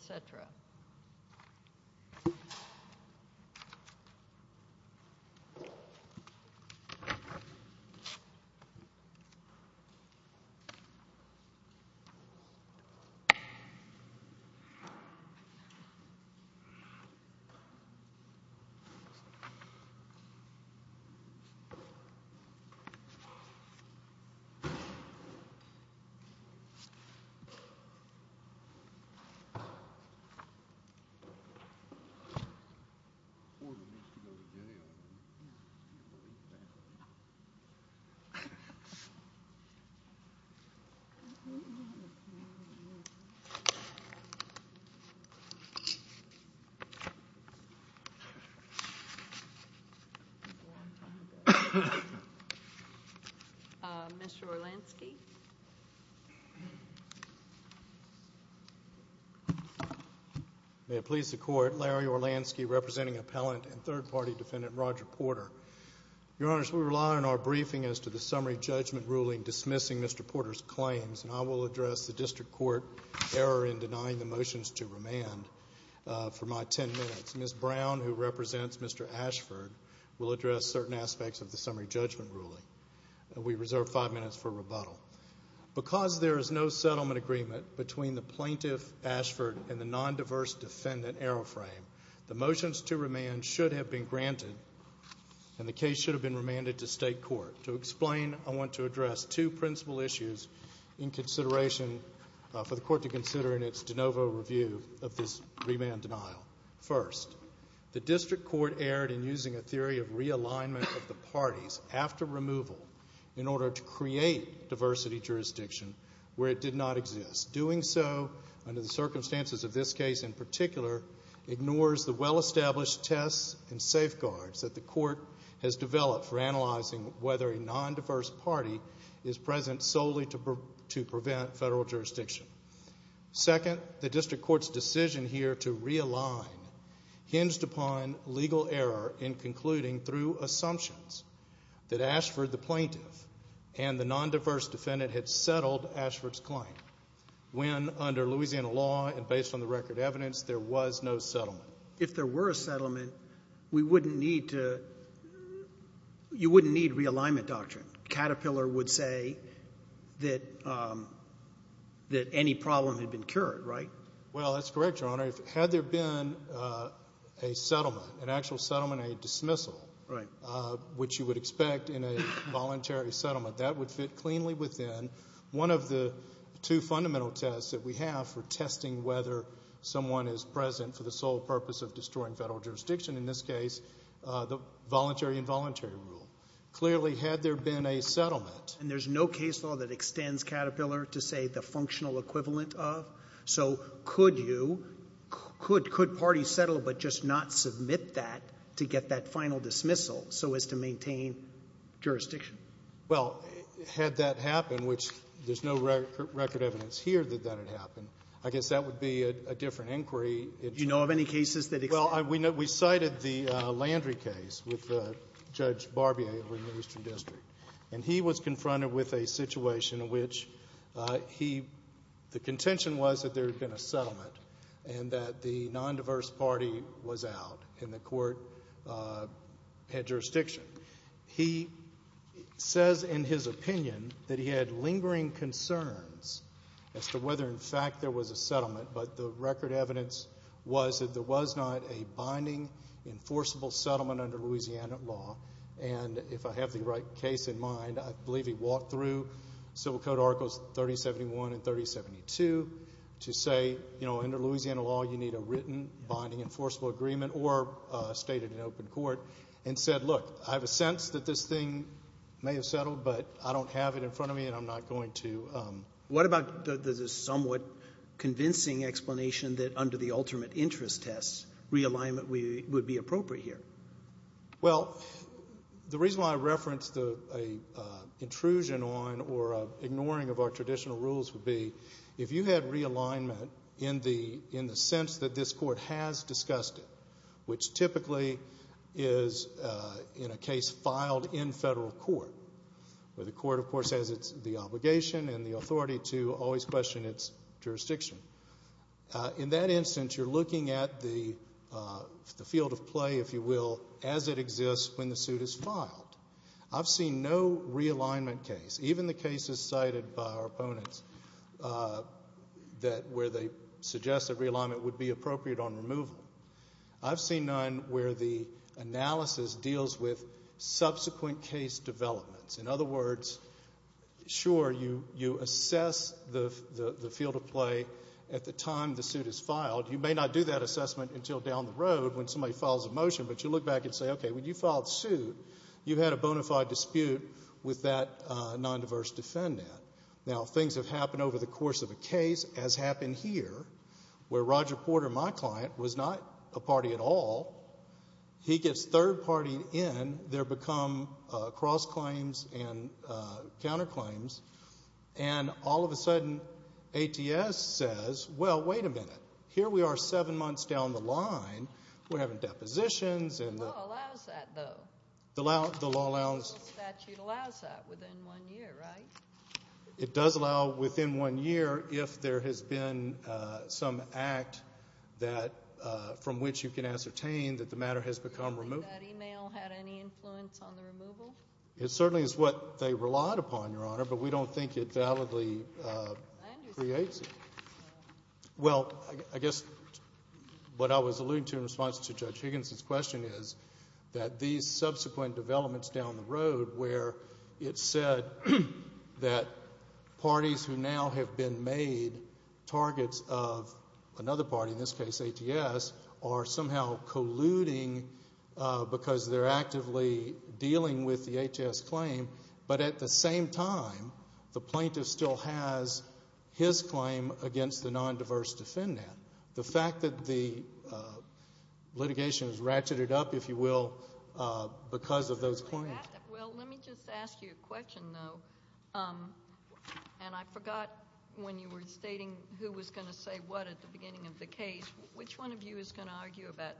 cetera. May it please the Court, Larry Orlansky representing Appellant and Third Party Defendant Roger Porter. Your Honors, we rely on our briefing as to the Summary Judgment Ruling dismissing Mr. Porter's claims, and I will address the District Court error in denying the motions to remand for my ten minutes. Ms. Brown, who represents Mr. Ashford, will address certain aspects of the Summary Judgment Ruling. We reserve five minutes for rebuttal. Because there is no settlement agreement between the plaintiff, Ashford, and the non-diverse defendant, Aeroframe, the motions to remand should have been granted, and the case should have been remanded to State Court. To explain, I want to address two principal issues for the Court to consider in its de novo review of this remand denial. First, the District Court erred in using a theory of realignment of the parties after removal in order to create diversity jurisdiction where it did not exist. Doing so under the circumstances of this case in particular ignores the well-established tests and safeguards that the Court has developed for analyzing whether a non-diverse party is present solely to prevent federal jurisdiction. Second, the District Court's decision here to realign hinged upon legal error in concluding through assumptions that Ashford, the plaintiff, and the non-diverse defendant had settled Ashford's claim when, under Louisiana law and based on the record evidence, there was no settlement. If there were a settlement, we wouldn't need to, you wouldn't need realignment doctrine. Caterpillar would say that any problem had been cured, right? Well, that's correct, Your Honor. Had there been a settlement, an actual settlement, a dismissal, which you would expect in a voluntary settlement, that would fit cleanly within one of the two fundamental tests that we have for testing whether someone is present for the sole purpose of destroying federal jurisdiction, in this case, the voluntary-involuntary rule. Clearly, had there been a settlement... And there's no case law that extends Caterpillar to, say, the functional equivalent of? So could you, could parties settle but just not submit that to get that final dismissal so as to maintain jurisdiction? Well, had that happened, which there's no record evidence here that that had happened, I guess that would be a different inquiry. Do you know of any cases that... Well, we cited the Landry case with Judge Barbier in the Eastern District. And he was confronted with a situation in which he... The contention was that there had been a settlement and that the non-diverse party was out and the court had jurisdiction. He says in his opinion that he had lingering concerns as to whether, in fact, there was a settlement, but the record evidence was that there was not a binding, enforceable settlement under Louisiana law. And if I have the right case in mind, I believe he walked through Civil Code Articles 3071 and 3072 to say, you know, under Louisiana law, you need a written binding enforceable agreement or stated in open court and said, look, I have a sense that this thing may have settled, but I don't have it in front of me and I'm not going to... What about the somewhat convincing explanation that under the ultimate interest test, realignment would be appropriate here? Well, the reason why I referenced an intrusion on or ignoring of our traditional rules would be, if you had realignment in the sense that this court has discussed it, which typically is in a case filed in federal court where the court, of course, has the obligation and the authority to always question its jurisdiction. In that instance, you're looking at the field of play, if you will, as it exists when the suit is filed. I've seen no realignment case, even the cases cited by our opponents, where they suggest that realignment would be appropriate on removal. I've seen none where the analysis deals with subsequent case developments. In other words, sure, you assess the field of play at the time the suit is filed. You may not do that assessment until down the road when somebody files a motion, but you look back and say, okay, when you filed suit, you had a bona fide dispute with that nondiverse defendant. Now, things have happened over the course of a case, as happened here, where Roger Porter, my client, was not a party at all. He gets third-party in. There become cross-claims and counterclaims, and all of a sudden ATS says, well, wait a minute. Here we are seven months down the line. We're having depositions. The law allows that, though. The law allows. The statute allows that within one year, right? It does allow within one year if there has been some act from which you can ascertain that the matter has become removed. Do you think that email had any influence on the removal? It certainly is what they relied upon, Your Honor, but we don't think it validly creates it. Well, I guess what I was alluding to in response to Judge Higginson's question is that these subsequent developments down the road where it said that parties who now have been made targets of another party, in this case ATS, are somehow colluding because they're actively dealing with the ATS claim, but at the same time the plaintiff still has his claim against the nondiverse defendant. The fact that the litigation is ratcheted up, if you will, because of those claims. Well, let me just ask you a question, though, and I forgot when you were stating who was going to say what at the beginning of the case. Which one of you is going to argue that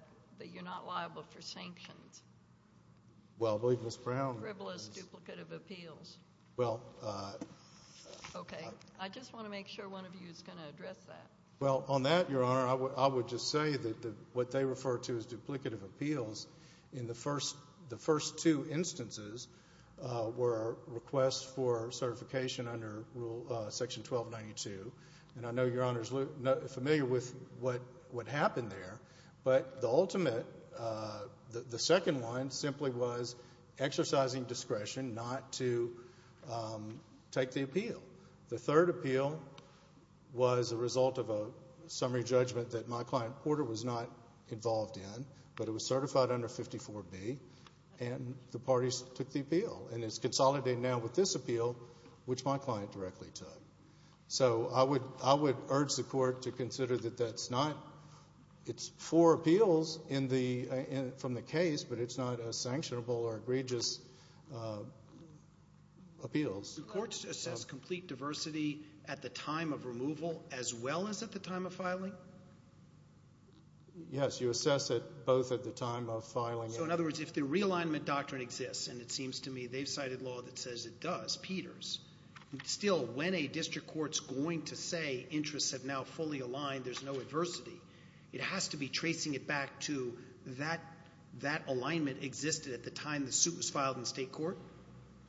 you're not liable for sanctions? Well, I believe Ms. Brown. Frivolous duplicate of appeals. Well. Okay. I just want to make sure one of you is going to address that. Well, on that, Your Honor, I would just say that what they refer to as duplicative appeals, in the first two instances were requests for certification under Section 1292, and I know Your Honor is familiar with what happened there, but the ultimate, the second one, simply was exercising discretion not to take the appeal. The third appeal was a result of a summary judgment that my client Porter was not involved in, but it was certified under 54B, and the parties took the appeal. And it's consolidated now with this appeal, which my client directly took. So I would urge the Court to consider that that's not for appeals from the case, but it's not a sanctionable or egregious appeals. Do courts assess complete diversity at the time of removal as well as at the time of filing? Yes, you assess it both at the time of filing. So, in other words, if the realignment doctrine exists, and it seems to me they've cited law that says it does, Peters, still when a district court's going to say interests have now fully aligned, there's no adversity, it has to be tracing it back to that alignment existed at the time the suit was filed in state court?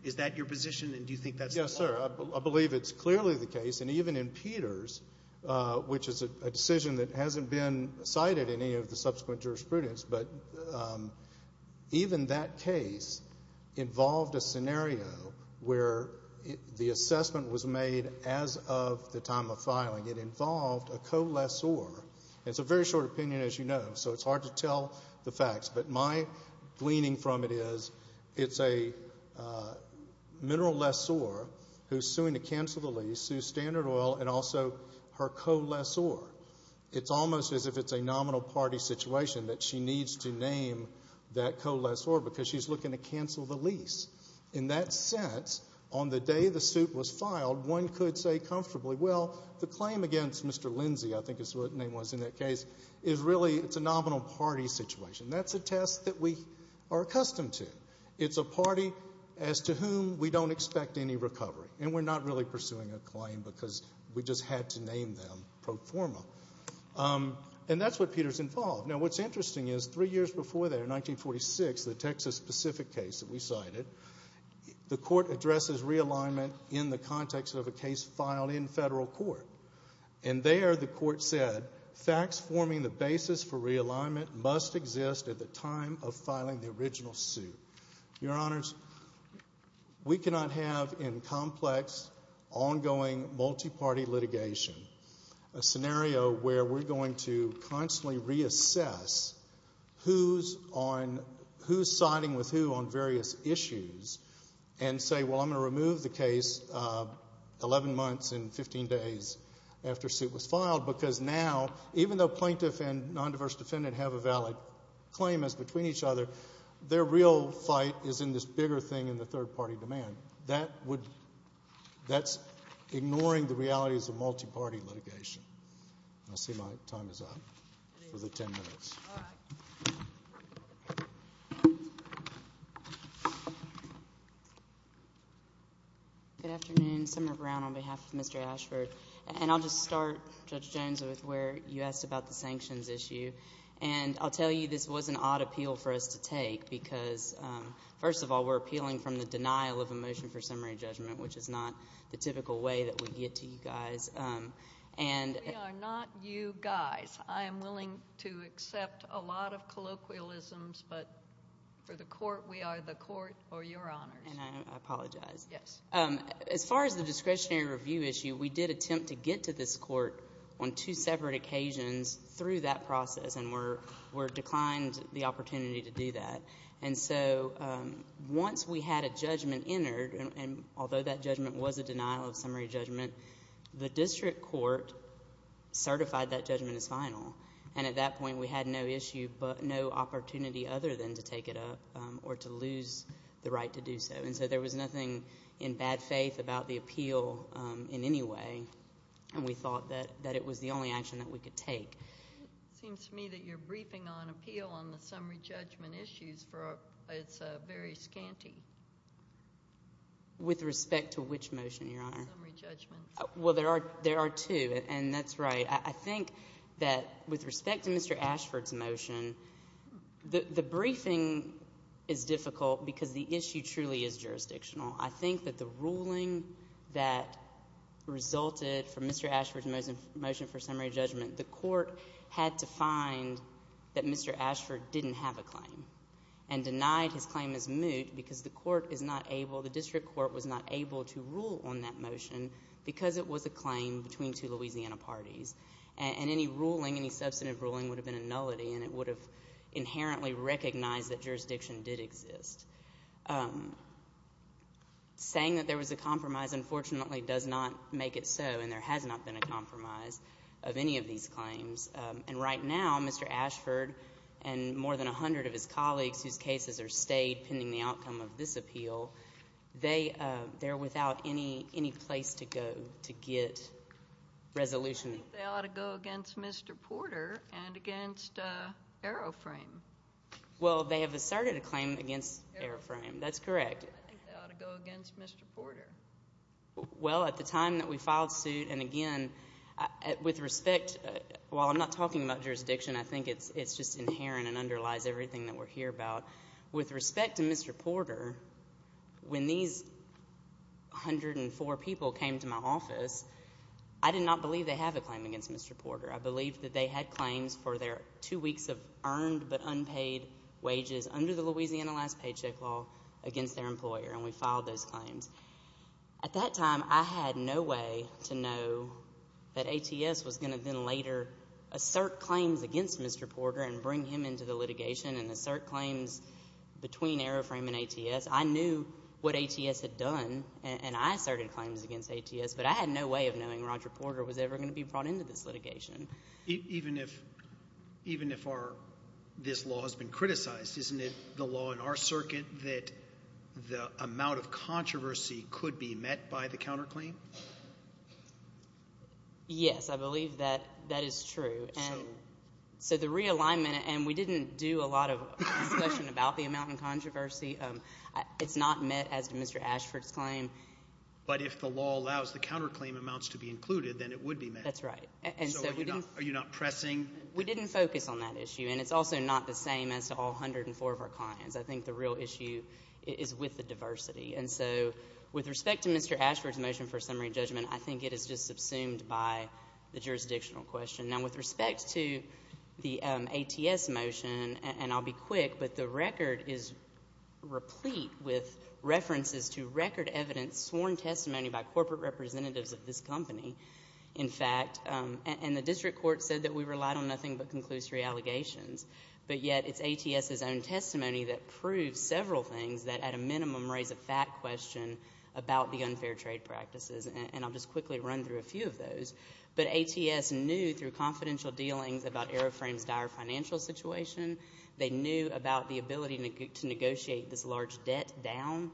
Is that your position, and do you think that's the case? Yes, sir. I believe it's clearly the case, and even in Peters, which is a decision that hasn't been cited in any of the subsequent jurisprudence, but even that case involved a scenario where the assessment was made as of the time of filing. It involved a co-lessor. It's a very short opinion, as you know, so it's hard to tell the facts, but my gleaning from it is it's a mineral lessor who's suing to cancel the lease, sue Standard Oil, and also her co-lessor. It's almost as if it's a nominal party situation that she needs to name that co-lessor because she's looking to cancel the lease. In that sense, on the day the suit was filed, one could say comfortably, well, the claim against Mr. Lindsey, I think is what the name was in that case, is really it's a nominal party situation. That's a test that we are accustomed to. It's a party as to whom we don't expect any recovery, and we're not really pursuing a claim because we just had to name them pro forma. And that's what Peters involved. Now, what's interesting is three years before that, in 1946, the Texas Pacific case that we cited, the court addresses realignment in the context of a case filed in federal court, and there the court said facts forming the basis for realignment must exist at the time of filing the original suit. Your Honors, we cannot have in complex, ongoing, multi-party litigation a scenario where we're going to constantly reassess who's siding with who on various issues and say, well, I'm going to remove the case 11 months and 15 days after a suit was filed because now, even though plaintiff and non-diverse defendant have a valid claim as between each other, their real fight is in this bigger thing in the third-party demand. That's ignoring the realities of multi-party litigation. I see my time is up for the 10 minutes. All right. Good afternoon. Summer Brown on behalf of Mr. Ashford. And I'll just start, Judge Jones, with where you asked about the sanctions issue. And I'll tell you this was an odd appeal for us to take because, first of all, we're appealing from the denial of a motion for summary judgment, which is not the typical way that we get to you guys. We are not you guys. I am willing to accept a lot of colloquialisms, but for the court, we are the court or your honors. And I apologize. Yes. As far as the discretionary review issue, we did attempt to get to this court on two separate occasions through that process, and we declined the opportunity to do that. And so once we had a judgment entered, and although that judgment was a denial of summary judgment, the district court certified that judgment as final, and at that point we had no issue but no opportunity other than to take it up or to lose the right to do so. And so there was nothing in bad faith about the appeal in any way, and we thought that it was the only action that we could take. It seems to me that you're briefing on appeal on the summary judgment issues. It's very scanty. With respect to which motion, Your Honor? The summary judgment. Well, there are two, and that's right. I think that with respect to Mr. Ashford's motion, the briefing is difficult because the issue truly is jurisdictional. I think that the ruling that resulted from Mr. Ashford's motion for summary judgment, the court had to find that Mr. Ashford didn't have a claim and denied his claim as moot because the court is not able, the district court was not able to rule on that motion because it was a claim between two Louisiana parties. And any ruling, any substantive ruling would have been a nullity, and it would have inherently recognized that jurisdiction did exist. Saying that there was a compromise unfortunately does not make it so, and there has not been a compromise of any of these claims. And right now, Mr. Ashford and more than a hundred of his colleagues, whose cases are stayed pending the outcome of this appeal, they're without any place to go to get resolution. I think they ought to go against Mr. Porter and against Aeroframe. Well, they have asserted a claim against Aeroframe. That's correct. I think they ought to go against Mr. Porter. Well, at the time that we filed suit, and again, with respect, while I'm not talking about jurisdiction, I think it's just inherent and underlies everything that we're here about. With respect to Mr. Porter, when these 104 people came to my office, I did not believe they have a claim against Mr. Porter. I believed that they had claims for their two weeks of earned but unpaid wages under the Louisiana last paycheck law against their employer, and we filed those claims. At that time, I had no way to know that ATS was going to then later assert claims against Mr. Porter and bring him into the litigation and assert claims between Aeroframe and ATS. I knew what ATS had done, and I asserted claims against ATS, but I had no way of knowing Roger Porter was ever going to be brought into this litigation. Even if this law has been criticized, isn't it the law in our circuit that the amount of controversy could be met by the counterclaim? Yes, I believe that that is true. So the realignment, and we didn't do a lot of discussion about the amount of controversy. It's not met as to Mr. Ashford's claim. But if the law allows the counterclaim amounts to be included, then it would be met. That's right. So are you not pressing? We didn't focus on that issue, and it's also not the same as to all 104 of our clients. I think the real issue is with the diversity. And so with respect to Mr. Ashford's motion for summary judgment, I think it is just subsumed by the jurisdictional question. Now, with respect to the ATS motion, and I'll be quick, but the record is replete with references to record evidence, sworn testimony by corporate representatives of this company, in fact, and the district court said that we relied on nothing but conclusory allegations. But yet it's ATS's own testimony that proves several things that at a minimum raise a fact question about the unfair trade practices, and I'll just quickly run through a few of those. But ATS knew through confidential dealings about Aeroframe's dire financial situation. They knew about the ability to negotiate this large debt down.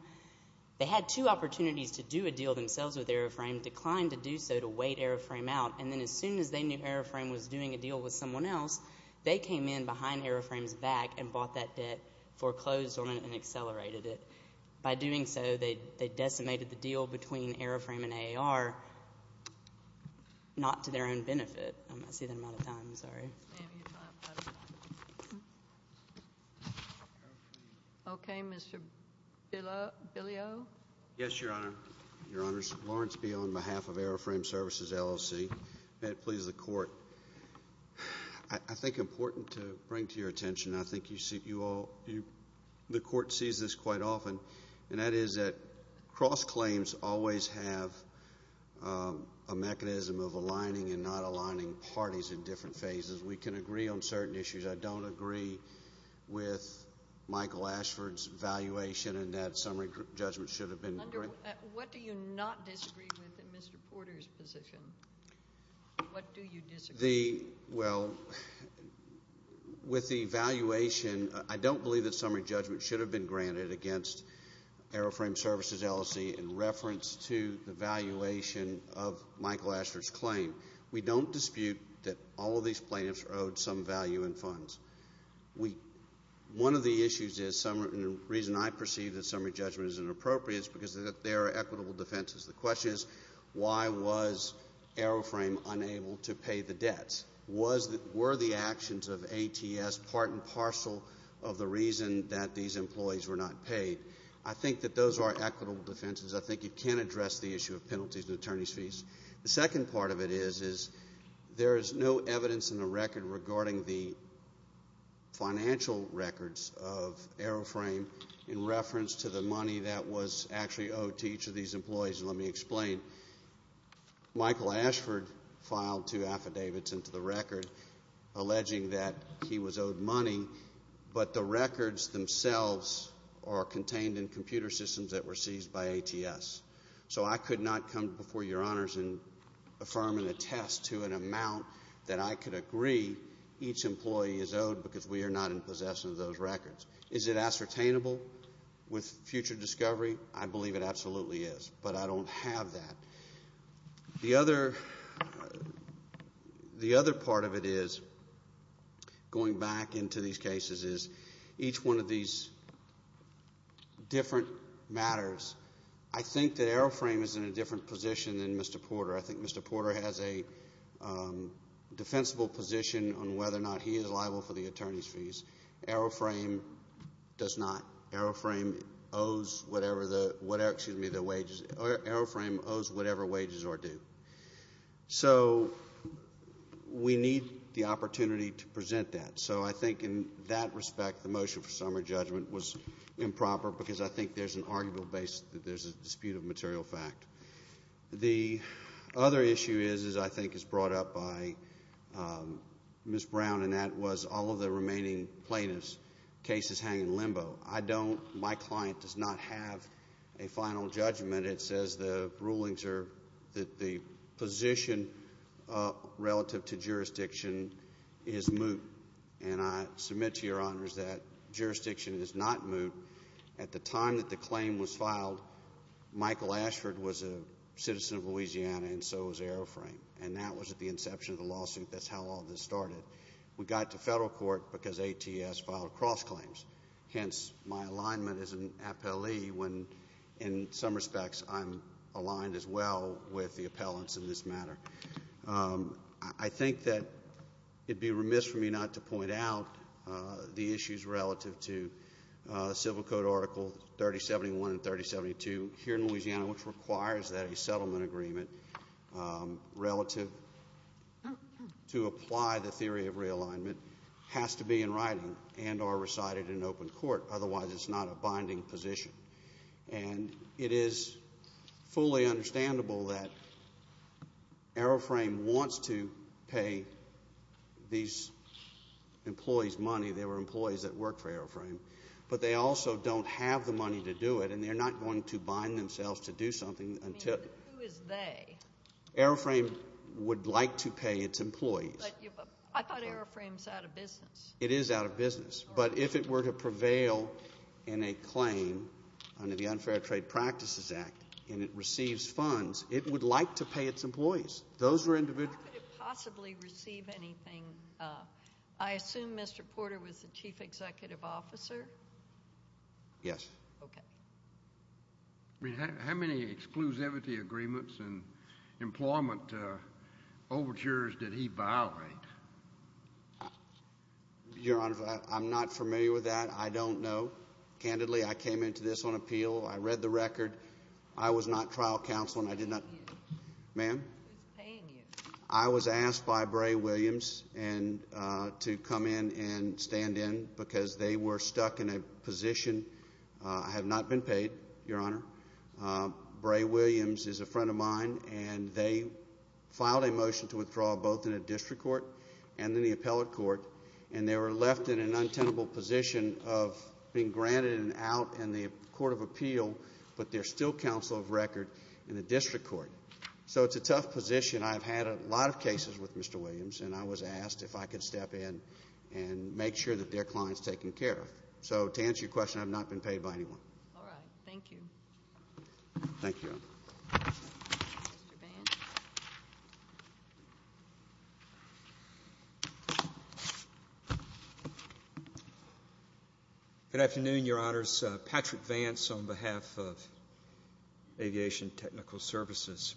They had two opportunities to do a deal themselves with Aeroframe, declined to do so to wait Aeroframe out, and then as soon as they knew Aeroframe was doing a deal with someone else, they came in behind Aeroframe's back and bought that debt, foreclosed on it, and accelerated it. By doing so, they decimated the deal between Aeroframe and AAR not to their own benefit. I'm not seeing the amount of time. I'm sorry. Okay. Mr. Bileau? Yes, Your Honor. Your Honors, Lawrence Bileau on behalf of Aeroframe Services LLC. May it please the Court. I think important to bring to your attention, I think you all, the Court sees this quite often, and that is that cross-claims always have a mechanism of aligning and not aligning parties in different phases. We can agree on certain issues. I don't agree with Michael Ashford's evaluation in that summary judgment should have been. What do you not disagree with in Mr. Porter's position? What do you disagree with? Well, with the evaluation, I don't believe that summary judgment should have been granted against Aeroframe Services LLC in reference to the valuation of Michael Ashford's claim. We don't dispute that all of these plaintiffs are owed some value in funds. One of the issues is, and the reason I perceive that summary judgment is inappropriate is because there are equitable defenses. The question is, why was Aeroframe unable to pay the debts? Were the actions of ATS part and parcel of the reason that these employees were not paid? I think that those are equitable defenses. I think it can address the issue of penalties and attorney's fees. The second part of it is there is no evidence in the record regarding the financial records of Aeroframe in reference to the money that was actually owed to each of these employees. And let me explain. Michael Ashford filed two affidavits into the record alleging that he was owed money, but the records themselves are contained in computer systems that were seized by ATS. So I could not come before Your Honors and affirm and attest to an amount that I could agree each employee is owed because we are not in possession of those records. Is it ascertainable with future discovery? I believe it absolutely is, but I don't have that. The other part of it is, going back into these cases, is each one of these different matters. I think that Aeroframe is in a different position than Mr. Porter. I think Mr. Porter has a defensible position on whether or not he is liable for the attorney's fees. Aeroframe does not. Aeroframe owes whatever wages are due. So we need the opportunity to present that. So I think in that respect, the motion for summary judgment was improper because I think there's an arguable basis that there's a dispute of material fact. The other issue is, I think is brought up by Ms. Brown, and that was all of the remaining plaintiffs' cases hang in limbo. I don't, my client does not have a final judgment. It says the rulings are that the position relative to jurisdiction is moot, and I submit to Your Honors that jurisdiction is not moot. At the time that the claim was filed, Michael Ashford was a citizen of Louisiana, and so was Aeroframe. And that was at the inception of the lawsuit. That's how all this started. We got to federal court because ATS filed cross-claims. Hence, my alignment as an appellee when, in some respects, I'm aligned as well with the appellants in this matter. I think that it would be remiss of me not to point out the issues relative to Civil Code Article 3071 and 3072 here in Louisiana, which requires that a settlement agreement relative to apply the theory of realignment has to be in writing and are recited in open court. Otherwise, it's not a binding position. And it is fully understandable that Aeroframe wants to pay these employees money. They were employees that worked for Aeroframe. But they also don't have the money to do it, and they're not going to bind themselves to do something. I mean, who is they? Aeroframe would like to pay its employees. But I thought Aeroframe's out of business. It is out of business. But if it were to prevail in a claim under the Unfair Trade Practices Act and it receives funds, it would like to pay its employees. Those were individual. How could it possibly receive anything? I assume Mr. Porter was the chief executive officer? Yes. Okay. How many exclusivity agreements and employment overtures did he violate? Your Honor, I'm not familiar with that. I don't know. Candidly, I came into this on appeal. I read the record. I was not trial counsel, and I did not. Ma'am? Who's paying you? I was asked by Bray Williams to come in and stand in because they were stuck in a position. I have not been paid, Your Honor. Bray Williams is a friend of mine. And they filed a motion to withdraw both in a district court and in the appellate court, and they were left in an untenable position of being granted an out in the court of appeal, but they're still counsel of record in the district court. So it's a tough position. I've had a lot of cases with Mr. Williams, and I was asked if I could step in and make sure that their client's taken care of. So to answer your question, I've not been paid by anyone. All right. Thank you. Thank you. Good afternoon, Your Honors. Patrick Vance on behalf of Aviation Technical Services.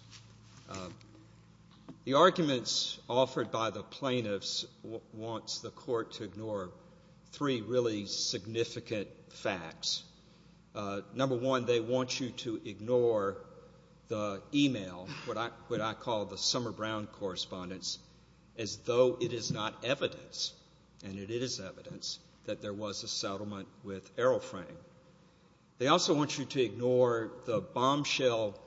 The arguments offered by the plaintiffs wants the court to ignore three really significant facts. Number one, they want you to ignore the e-mail, what I call the Summer Brown correspondence, as though it is not evidence, and it is evidence, that there was a settlement with Aeroframe. They also want you to ignore the bombshell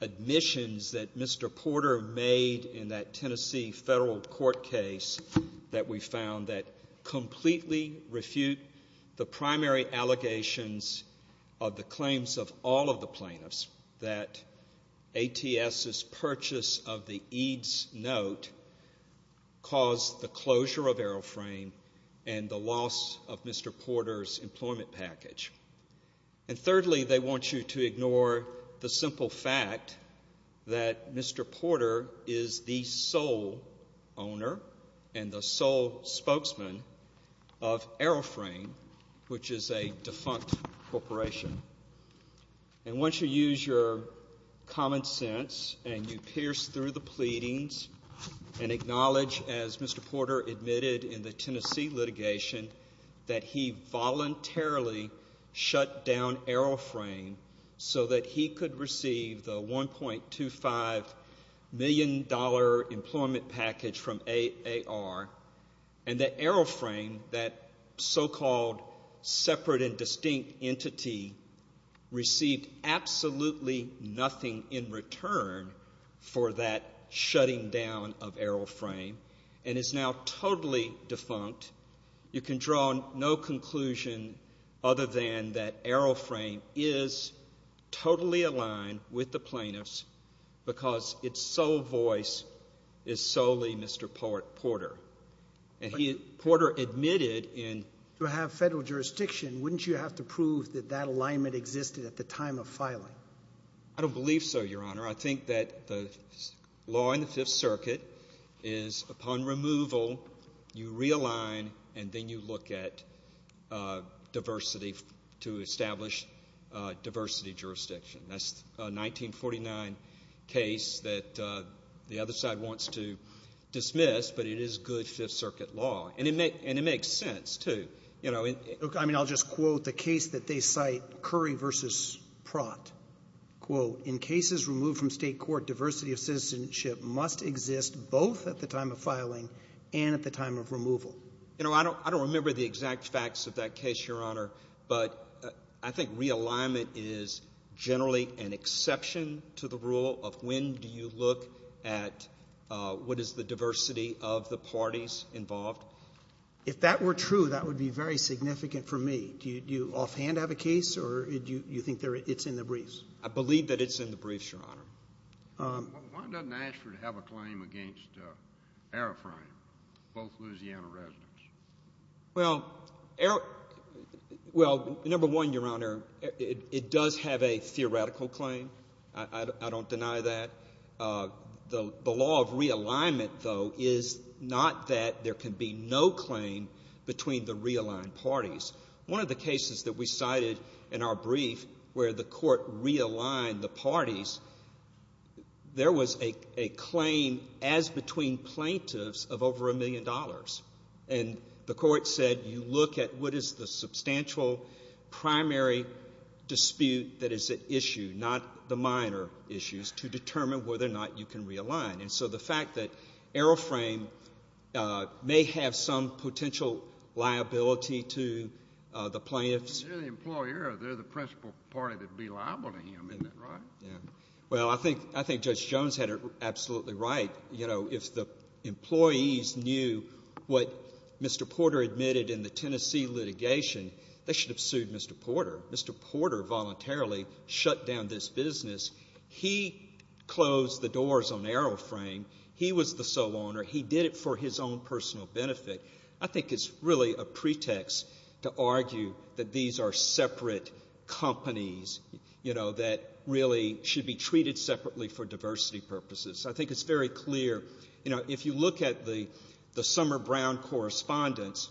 admissions that Mr. Porter made in that Tennessee federal court case that we found that completely refute the primary allegations of the claims of all of the plaintiffs, that ATS's purchase of the EADS note caused the closure of Aeroframe and the loss of Mr. Porter's employment package. And thirdly, they want you to ignore the simple fact that Mr. Porter is the sole owner and the sole spokesman of Aeroframe, which is a defunct corporation. And once you use your common sense and you pierce through the pleadings and acknowledge, as Mr. Porter admitted in the Tennessee litigation, that he voluntarily shut down Aeroframe so that he could receive the $1.25 million employment package from AAR and that Aeroframe, that so-called separate and distinct entity, received absolutely nothing in return for that shutting down of Aeroframe and is now totally defunct, you can draw no conclusion other than that Aeroframe is totally aligned with the plaintiffs because its sole voice is solely Mr. Porter. And Porter admitted in… To have federal jurisdiction, wouldn't you have to prove that that alignment existed at the time of filing? I don't believe so, Your Honor. I think that the law in the Fifth Circuit is upon removal, you realign, and then you look at diversity to establish diversity jurisdiction. That's a 1949 case that the other side wants to dismiss, but it is good Fifth Circuit law. And it makes sense, too. Look, I mean, I'll just quote the case that they cite, Curry v. Pratt. Quote, in cases removed from state court, diversity of citizenship must exist both at the time of filing and at the time of removal. You know, I don't remember the exact facts of that case, Your Honor, but I think realignment is generally an exception to the rule of when do you look at what is the diversity of the parties involved. If that were true, that would be very significant for me. Do you offhand have a case or do you think it's in the briefs? I believe that it's in the briefs, Your Honor. Why doesn't Ashford have a claim against Aeroframe, both Louisiana residents? Well, number one, Your Honor, it does have a theoretical claim. I don't deny that. The law of realignment, though, is not that there can be no claim between the realigned parties. One of the cases that we cited in our brief where the court realigned the parties, there was a claim as between plaintiffs of over a million dollars. And the court said you look at what is the substantial primary dispute that is at issue, not the minor issues, to determine whether or not you can realign. And so the fact that Aeroframe may have some potential liability to the plaintiffs. They're the employer. They're the principal party that would be liable to him. Isn't that right? Yeah. Well, I think Judge Jones had it absolutely right. You know, if the employees knew what Mr. Porter admitted in the Tennessee litigation, they should have sued Mr. Porter. Mr. Porter voluntarily shut down this business. He closed the doors on Aeroframe. He was the sole owner. He did it for his own personal benefit. I think it's really a pretext to argue that these are separate companies, you know, that really should be treated separately for diversity purposes. I think it's very clear. You know, if you look at the Summer Brown correspondence,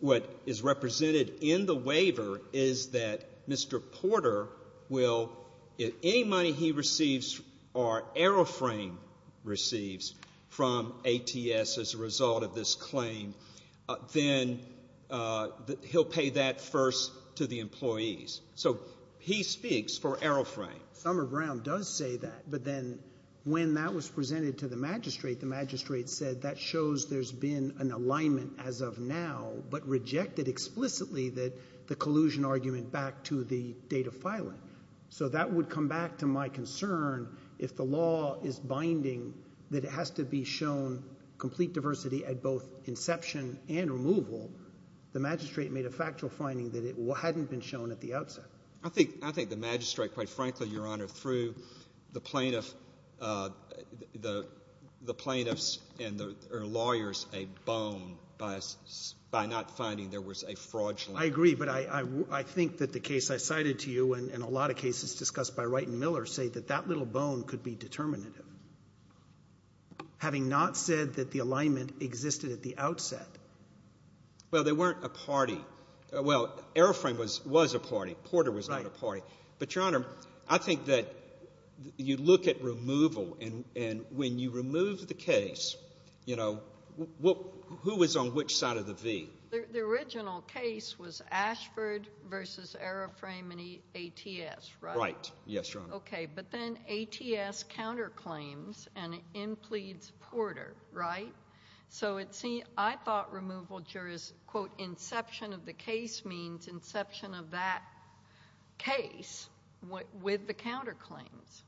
what is represented in the waiver is that Mr. Porter will, if any money he receives or Aeroframe receives from ATS as a result of this claim, then he'll pay that first to the employees. So he speaks for Aeroframe. Summer Brown does say that. But then when that was presented to the magistrate, the magistrate said that shows there's been an alignment as of now but rejected explicitly the collusion argument back to the date of filing. So that would come back to my concern if the law is binding that it has to be shown complete diversity at both inception and removal. The magistrate made a factual finding that it hadn't been shown at the outset. I think the magistrate, quite frankly, Your Honor, threw the plaintiffs and the lawyers a bone by not finding there was a fraudulent. I agree. But I think that the case I cited to you and a lot of cases discussed by Wright and Miller say that that little bone could be determinative, having not said that the alignment existed at the outset. Well, they weren't a party. Well, Aeroframe was a party. Porter was not a party. But, Your Honor, I think that you look at removal, and when you remove the case, you know, who was on which side of the V? The original case was Ashford v. Aeroframe and ATS, right? Right. Yes, Your Honor. Okay. But then ATS counterclaims and it impledes Porter, right? So I thought removal jurors, quote, inception of the case means inception of that case with the counterclaims.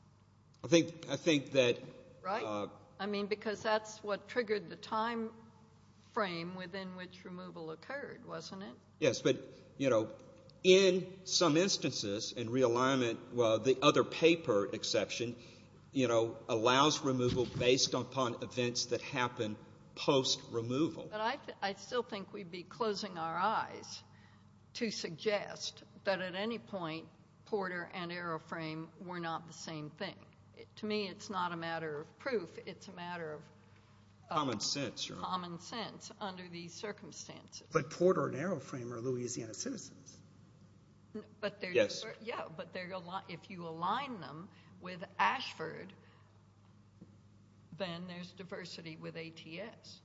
I think that ---- Right? I mean, because that's what triggered the time frame within which removal occurred, wasn't it? Yes, but, you know, in some instances in realignment, the other paper exception, you know, allows removal based upon events that happen post-removal. But I still think we'd be closing our eyes to suggest that at any point, Porter and Aeroframe were not the same thing. To me, it's not a matter of proof. It's a matter of ---- Common sense, Your Honor. Common sense under these circumstances. But Porter and Aeroframe are Louisiana citizens. Yes. Yeah, but if you align them with Ashford, then there's diversity with ATS.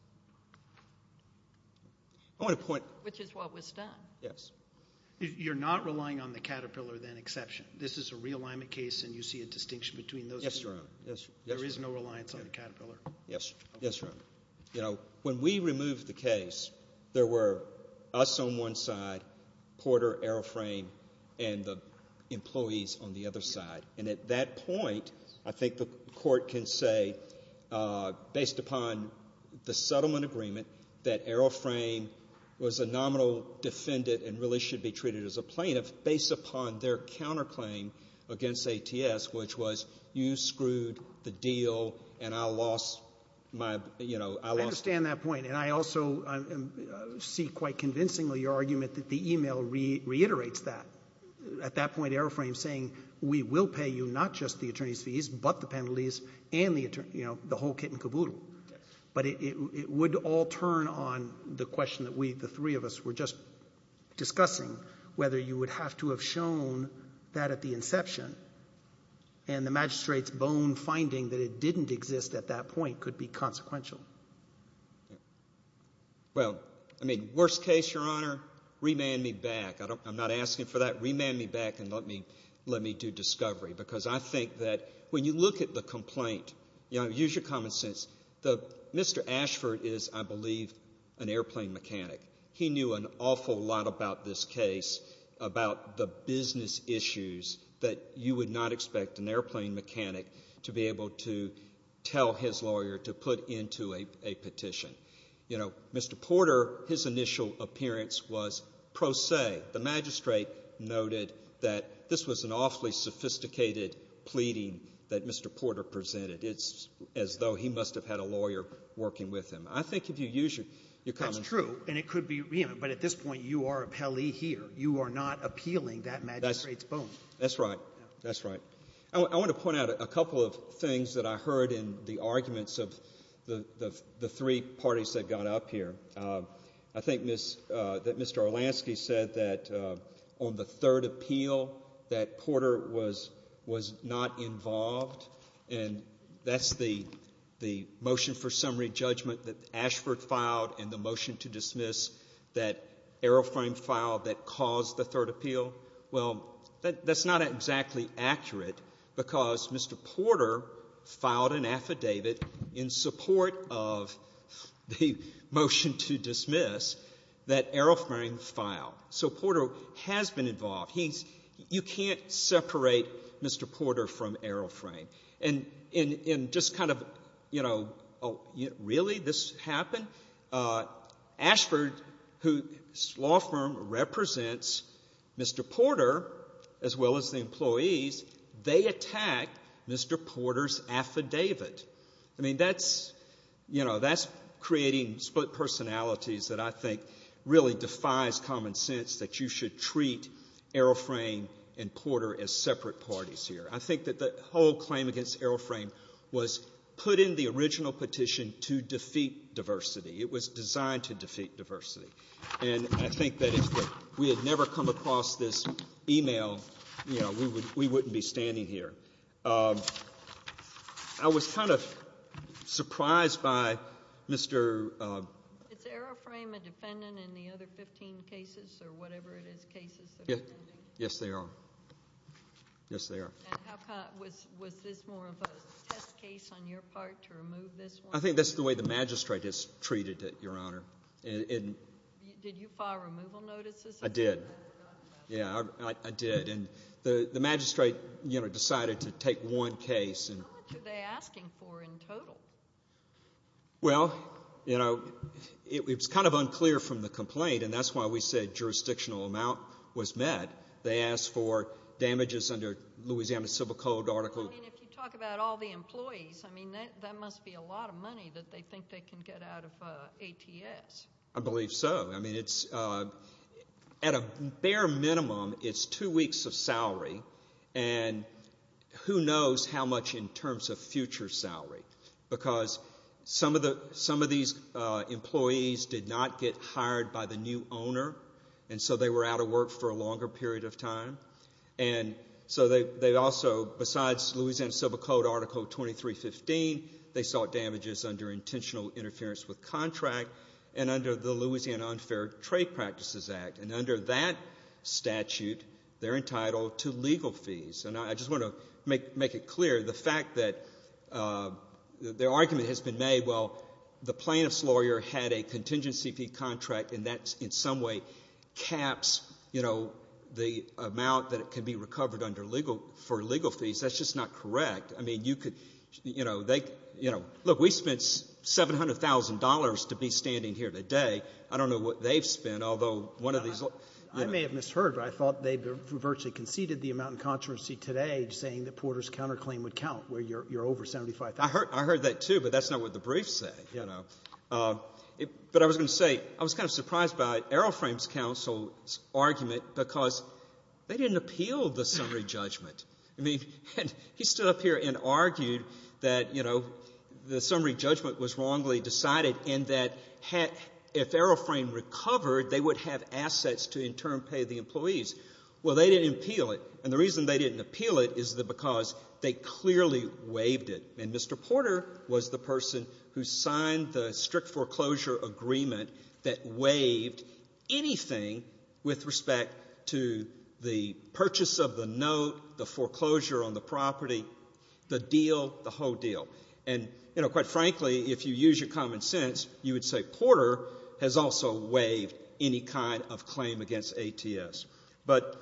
I want to point ---- Which is what was done. Yes. You're not relying on the Caterpillar, then, exception? This is a realignment case and you see a distinction between those two? Yes, Your Honor. There is no reliance on the Caterpillar? Yes. Yes, Your Honor. You know, when we removed the case, there were us on one side, Porter, Aeroframe, and the employees on the other side. And at that point, I think the Court can say, based upon the settlement agreement that Aeroframe was a nominal defendant and really should be treated as a plaintiff based upon their counterclaim against ATS, which was you screwed the deal and I lost my, you know, I lost ---- I understand that point. And I also see quite convincingly your argument that the e-mail reiterates that. At that point, Aeroframe is saying, we will pay you not just the attorney's fees but the penalties and the, you know, the whole kit and caboodle. But it would all turn on the question that we, the three of us, were just discussing whether you would have to have shown that at the inception and the magistrate's own finding that it didn't exist at that point could be consequential. Well, I mean, worst case, Your Honor, remand me back. I'm not asking for that. Remand me back and let me do discovery because I think that when you look at the complaint, you know, use your common sense. Mr. Ashford is, I believe, an airplane mechanic. He knew an awful lot about this case, about the business issues that you would not expect an airplane mechanic to be able to tell his lawyer to put into a petition. You know, Mr. Porter, his initial appearance was pro se. The magistrate noted that this was an awfully sophisticated pleading that Mr. Porter presented. It's as though he must have had a lawyer working with him. I think if you use your common sense ---- That's true. And it could be, you know, but at this point, you are a pele here. You are not appealing that magistrate's bone. That's right. That's right. I want to point out a couple of things that I heard in the arguments of the three parties that got up here. I think that Mr. Olansky said that on the third appeal that Porter was not involved, and that's the motion for summary judgment that Ashford filed and the motion to dismiss that Aeroflame file that caused the third appeal. Well, that's not exactly accurate because Mr. Porter filed an affidavit in support of the motion to dismiss that Aeroflame file. So Porter has been involved. He's ---- You can't separate Mr. Porter from Aeroflame. And just kind of, you know, really, this happened? Ashford, whose law firm represents Mr. Porter as well as the employees, they attacked Mr. Porter's affidavit. I mean, that's, you know, that's creating split personalities that I think really defies common sense that you should treat Aeroflame and Porter as separate parties here. I think that the whole claim against Aeroflame was put in the original petition to defeat diversity. It was designed to defeat diversity. And I think that if we had never come across this email, you know, we wouldn't be standing here. I was kind of surprised by Mr. ---- Is Aeroflame a defendant in the other 15 cases or whatever it is, cases that are pending? Yes, they are. Yes, they are. And was this more of a test case on your part to remove this one? I think that's the way the magistrate has treated it, Your Honor. Did you file removal notices? I did. Yeah, I did. And the magistrate, you know, decided to take one case and ---- How much are they asking for in total? Well, you know, it's kind of unclear from the complaint, and that's why we said jurisdictional amount was met. They asked for damages under Louisiana Civil Code Article ---- I mean, if you talk about all the employees, I mean, that must be a lot of money that they think they can get out of ATS. I believe so. I mean, it's at a bare minimum, it's two weeks of salary, and who knows how much in terms of future salary because some of these employees did not get hired by the new owner, and so they were out of work for a longer period of time. And so they also, besides Louisiana Civil Code Article 2315, they sought damages under intentional interference with contract and under the Louisiana Unfair Trade Practices Act. And under that statute, they're entitled to legal fees. And I just want to make it clear, the fact that their argument has been made, well, the amount that it can be recovered under legal ---- for legal fees, that's just not correct. I mean, you could ---- you know, they ---- you know, look, we spent $700,000 to be standing here today. I don't know what they've spent, although one of these ---- I may have misheard, but I thought they virtually conceded the amount in contrariancy today saying that Porter's counterclaim would count, where you're over $75,000. I heard that, too, but that's not what the briefs say, you know. But I was going to say, I was kind of surprised by Arrowframe's counsel's argument because they didn't appeal the summary judgment. I mean, he stood up here and argued that, you know, the summary judgment was wrongly decided and that if Arrowframe recovered, they would have assets to in turn pay the employees. Well, they didn't appeal it. And the reason they didn't appeal it is because they clearly waived it. And Mr. Porter was the person who signed the strict foreclosure agreement that waived anything with respect to the purchase of the note, the foreclosure on the property, the deal, the whole deal. And, you know, quite frankly, if you use your common sense, you would say Porter has also waived any kind of claim against ATS. But,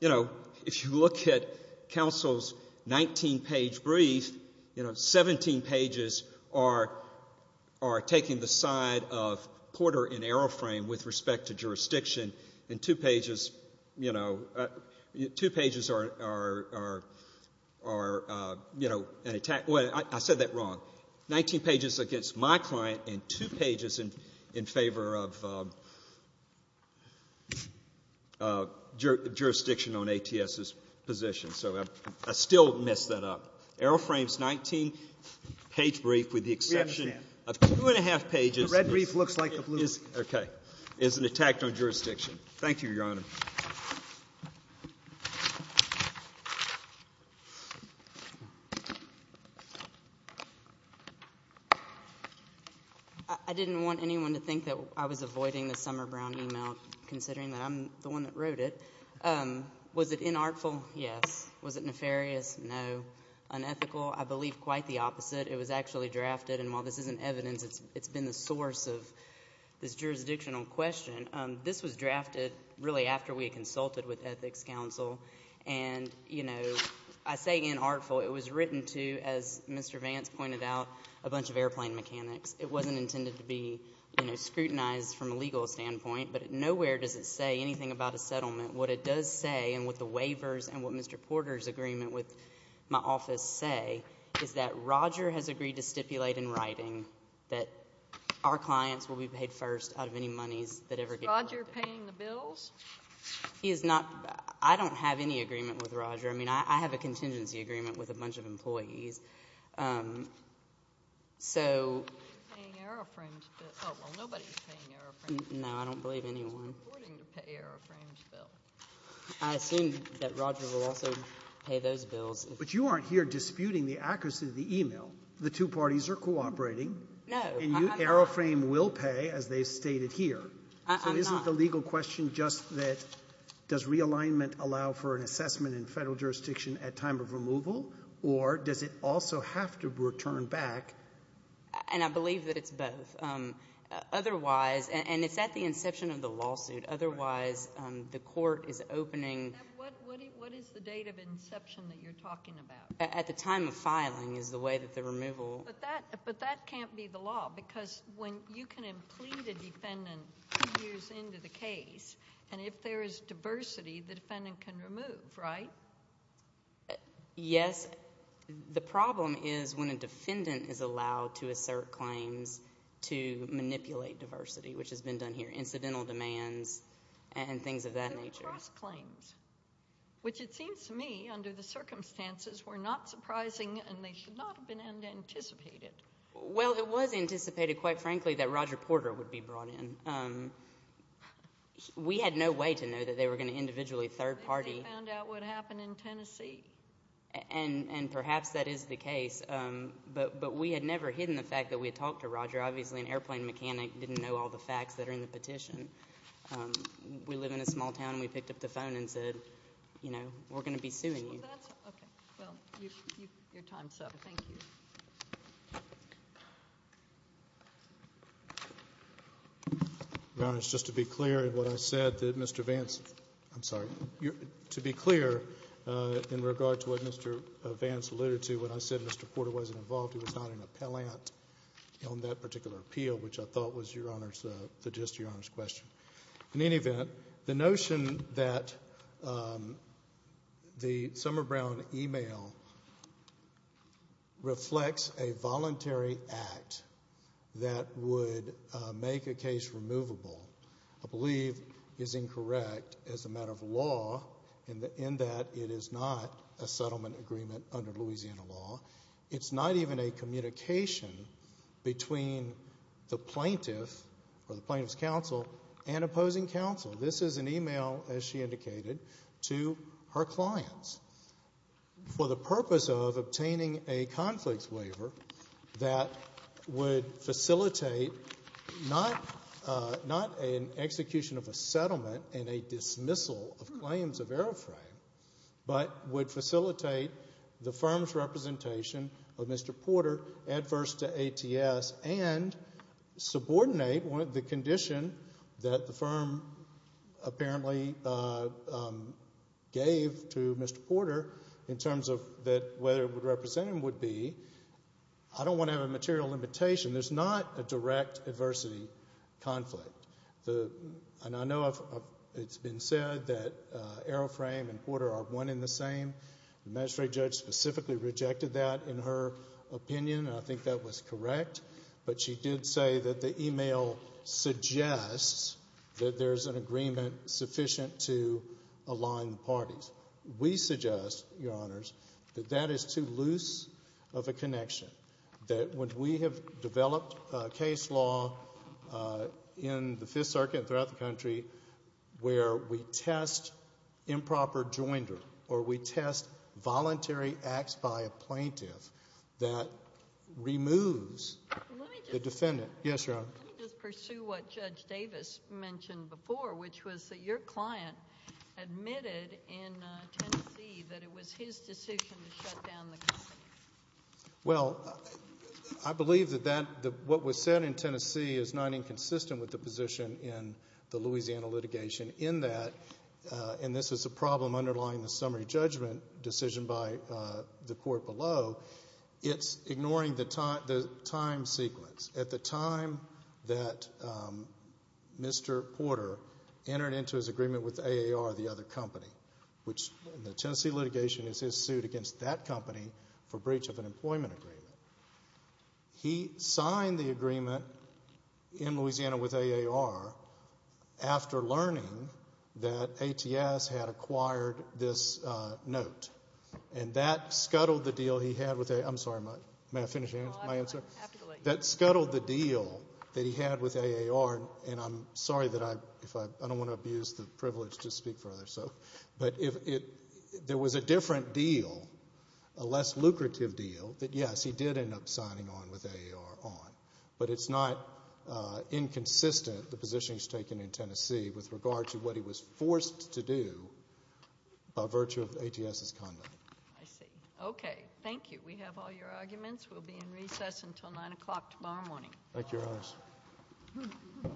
you know, if you look at counsel's 19-page brief, you know, 17 pages are taking the side of Porter and Arrowframe with respect to jurisdiction and two pages, you know, two pages are, you know, an attack. I said that wrong. So 19 pages against my client and two pages in favor of jurisdiction on ATS's position. So I still messed that up. Arrowframe's 19-page brief with the exception of two and a half pages is an attack on jurisdiction. Thank you, Your Honor. I didn't want anyone to think that I was avoiding the Summer Brown email, considering that I'm the one that wrote it. Was it inartful? Yes. Was it nefarious? No. Unethical? I believe quite the opposite. It was actually drafted. And while this isn't evidence, it's been the source of this jurisdictional question. This was drafted really after we had consulted with Ethics Council. And, you know, I say inartful. It was written to, as Mr. Vance pointed out, a bunch of airplane mechanics. It wasn't intended to be, you know, scrutinized from a legal standpoint. But nowhere does it say anything about a settlement. What it does say and what the waivers and what Mr. Porter's agreement with my office say is that Roger has agreed to stipulate in writing that our clients will be paid first out of any monies that ever get collected. Is Roger paying the bills? He is not. I don't have any agreement with Roger. I mean, I have a contingency agreement with a bunch of employees. So no, I don't believe anyone. I assume that Roger will also pay those bills. But you aren't here disputing the accuracy of the e-mail. The two parties are cooperating. No, I'm not. And AeroFrame will pay, as they've stated here. I'm not. So isn't the legal question just that does realignment allow for an assessment in federal jurisdiction at time of removal? Or does it also have to return back? And I believe that it's both. Otherwise, and it's at the inception of the lawsuit. Otherwise, the court is opening. What is the date of inception that you're talking about? At the time of filing is the way that the removal. But that can't be the law. Because when you can implead a defendant two years into the case, and if there is diversity, the defendant can remove, right? Yes. The problem is when a defendant is allowed to assert claims to manipulate diversity, which has been done here, incidental demands and things of that nature. Which it seems to me, under the circumstances, were not surprising and they should not have been anticipated. Well, it was anticipated, quite frankly, that Roger Porter would be brought in. We had no way to know that they were going to individually third party. They found out what happened in Tennessee. And perhaps that is the case. But we had never hidden the fact that we had talked to Roger. Obviously, an airplane mechanic didn't know all the facts that are in the petition. We live in a small town. We picked up the phone and said, you know, we're going to be suing you. Okay. Well, your time's up. Thank you. Your Honor, it's just to be clear in what I said that Mr. Vance, I'm sorry, to be clear in regard to what Mr. Vance alluded to, when I said Mr. Porter wasn't involved, he was not an appellant on that particular appeal, which I thought was just your Honor's question. In any event, the notion that the Summer Brown email reflects a voluntary act that would make a case removable, I believe is incorrect as a matter of law in that it is not a settlement agreement under Louisiana law. It's not even a communication between the plaintiff or the plaintiff's counsel and opposing counsel. This is an email, as she indicated, to her clients. For the purpose of obtaining a conflicts waiver that would facilitate not an execution of a settlement and a dismissal of claims of airframe, but would facilitate the firm's representation of Mr. Porter adverse to ATS and subordinate the condition that the firm apparently gave to Mr. Porter in terms of whether it would represent him would be, I don't want to have a material limitation. There's not a direct adversity conflict. And I know it's been said that AeroFrame and Porter are one in the same. The magistrate judge specifically rejected that in her opinion, and I think that was correct. But she did say that the email suggests that there's an agreement sufficient to align the parties. We suggest, Your Honors, that that is too loose of a connection, that when we have developed case law in the Fifth Circuit and throughout the country where we test improper joinder or we test voluntary acts by a plaintiff that removes the defendant. Yes, Your Honor. Let me just pursue what Judge Davis mentioned before, which was that your client admitted in Tennessee that it was his decision to shut down the company. Well, I believe that what was said in Tennessee is not inconsistent with the position in the Louisiana litigation in that, and this is a problem underlying the summary judgment decision by the court below, it's ignoring the time sequence. At the time that Mr. Porter entered into his agreement with AAR, the other company, which in the Tennessee litigation is his suit against that company for breach of an employment agreement, he signed the agreement in Louisiana with AAR after learning that ATS had acquired this note, and that scuttled the deal he had with AAR. I'm sorry. May I finish my answer? That scuttled the deal that he had with AAR, and I'm sorry that I don't want to abuse the privilege to speak further, but there was a different deal, a less lucrative deal, that, yes, he did end up signing on with AAR on, but it's not inconsistent, the position he's taken in Tennessee, with regard to what he was forced to do by virtue of ATS's conduct. I see. Okay. Thank you. We have all your arguments. Thank you, Your Honor. Thank you all.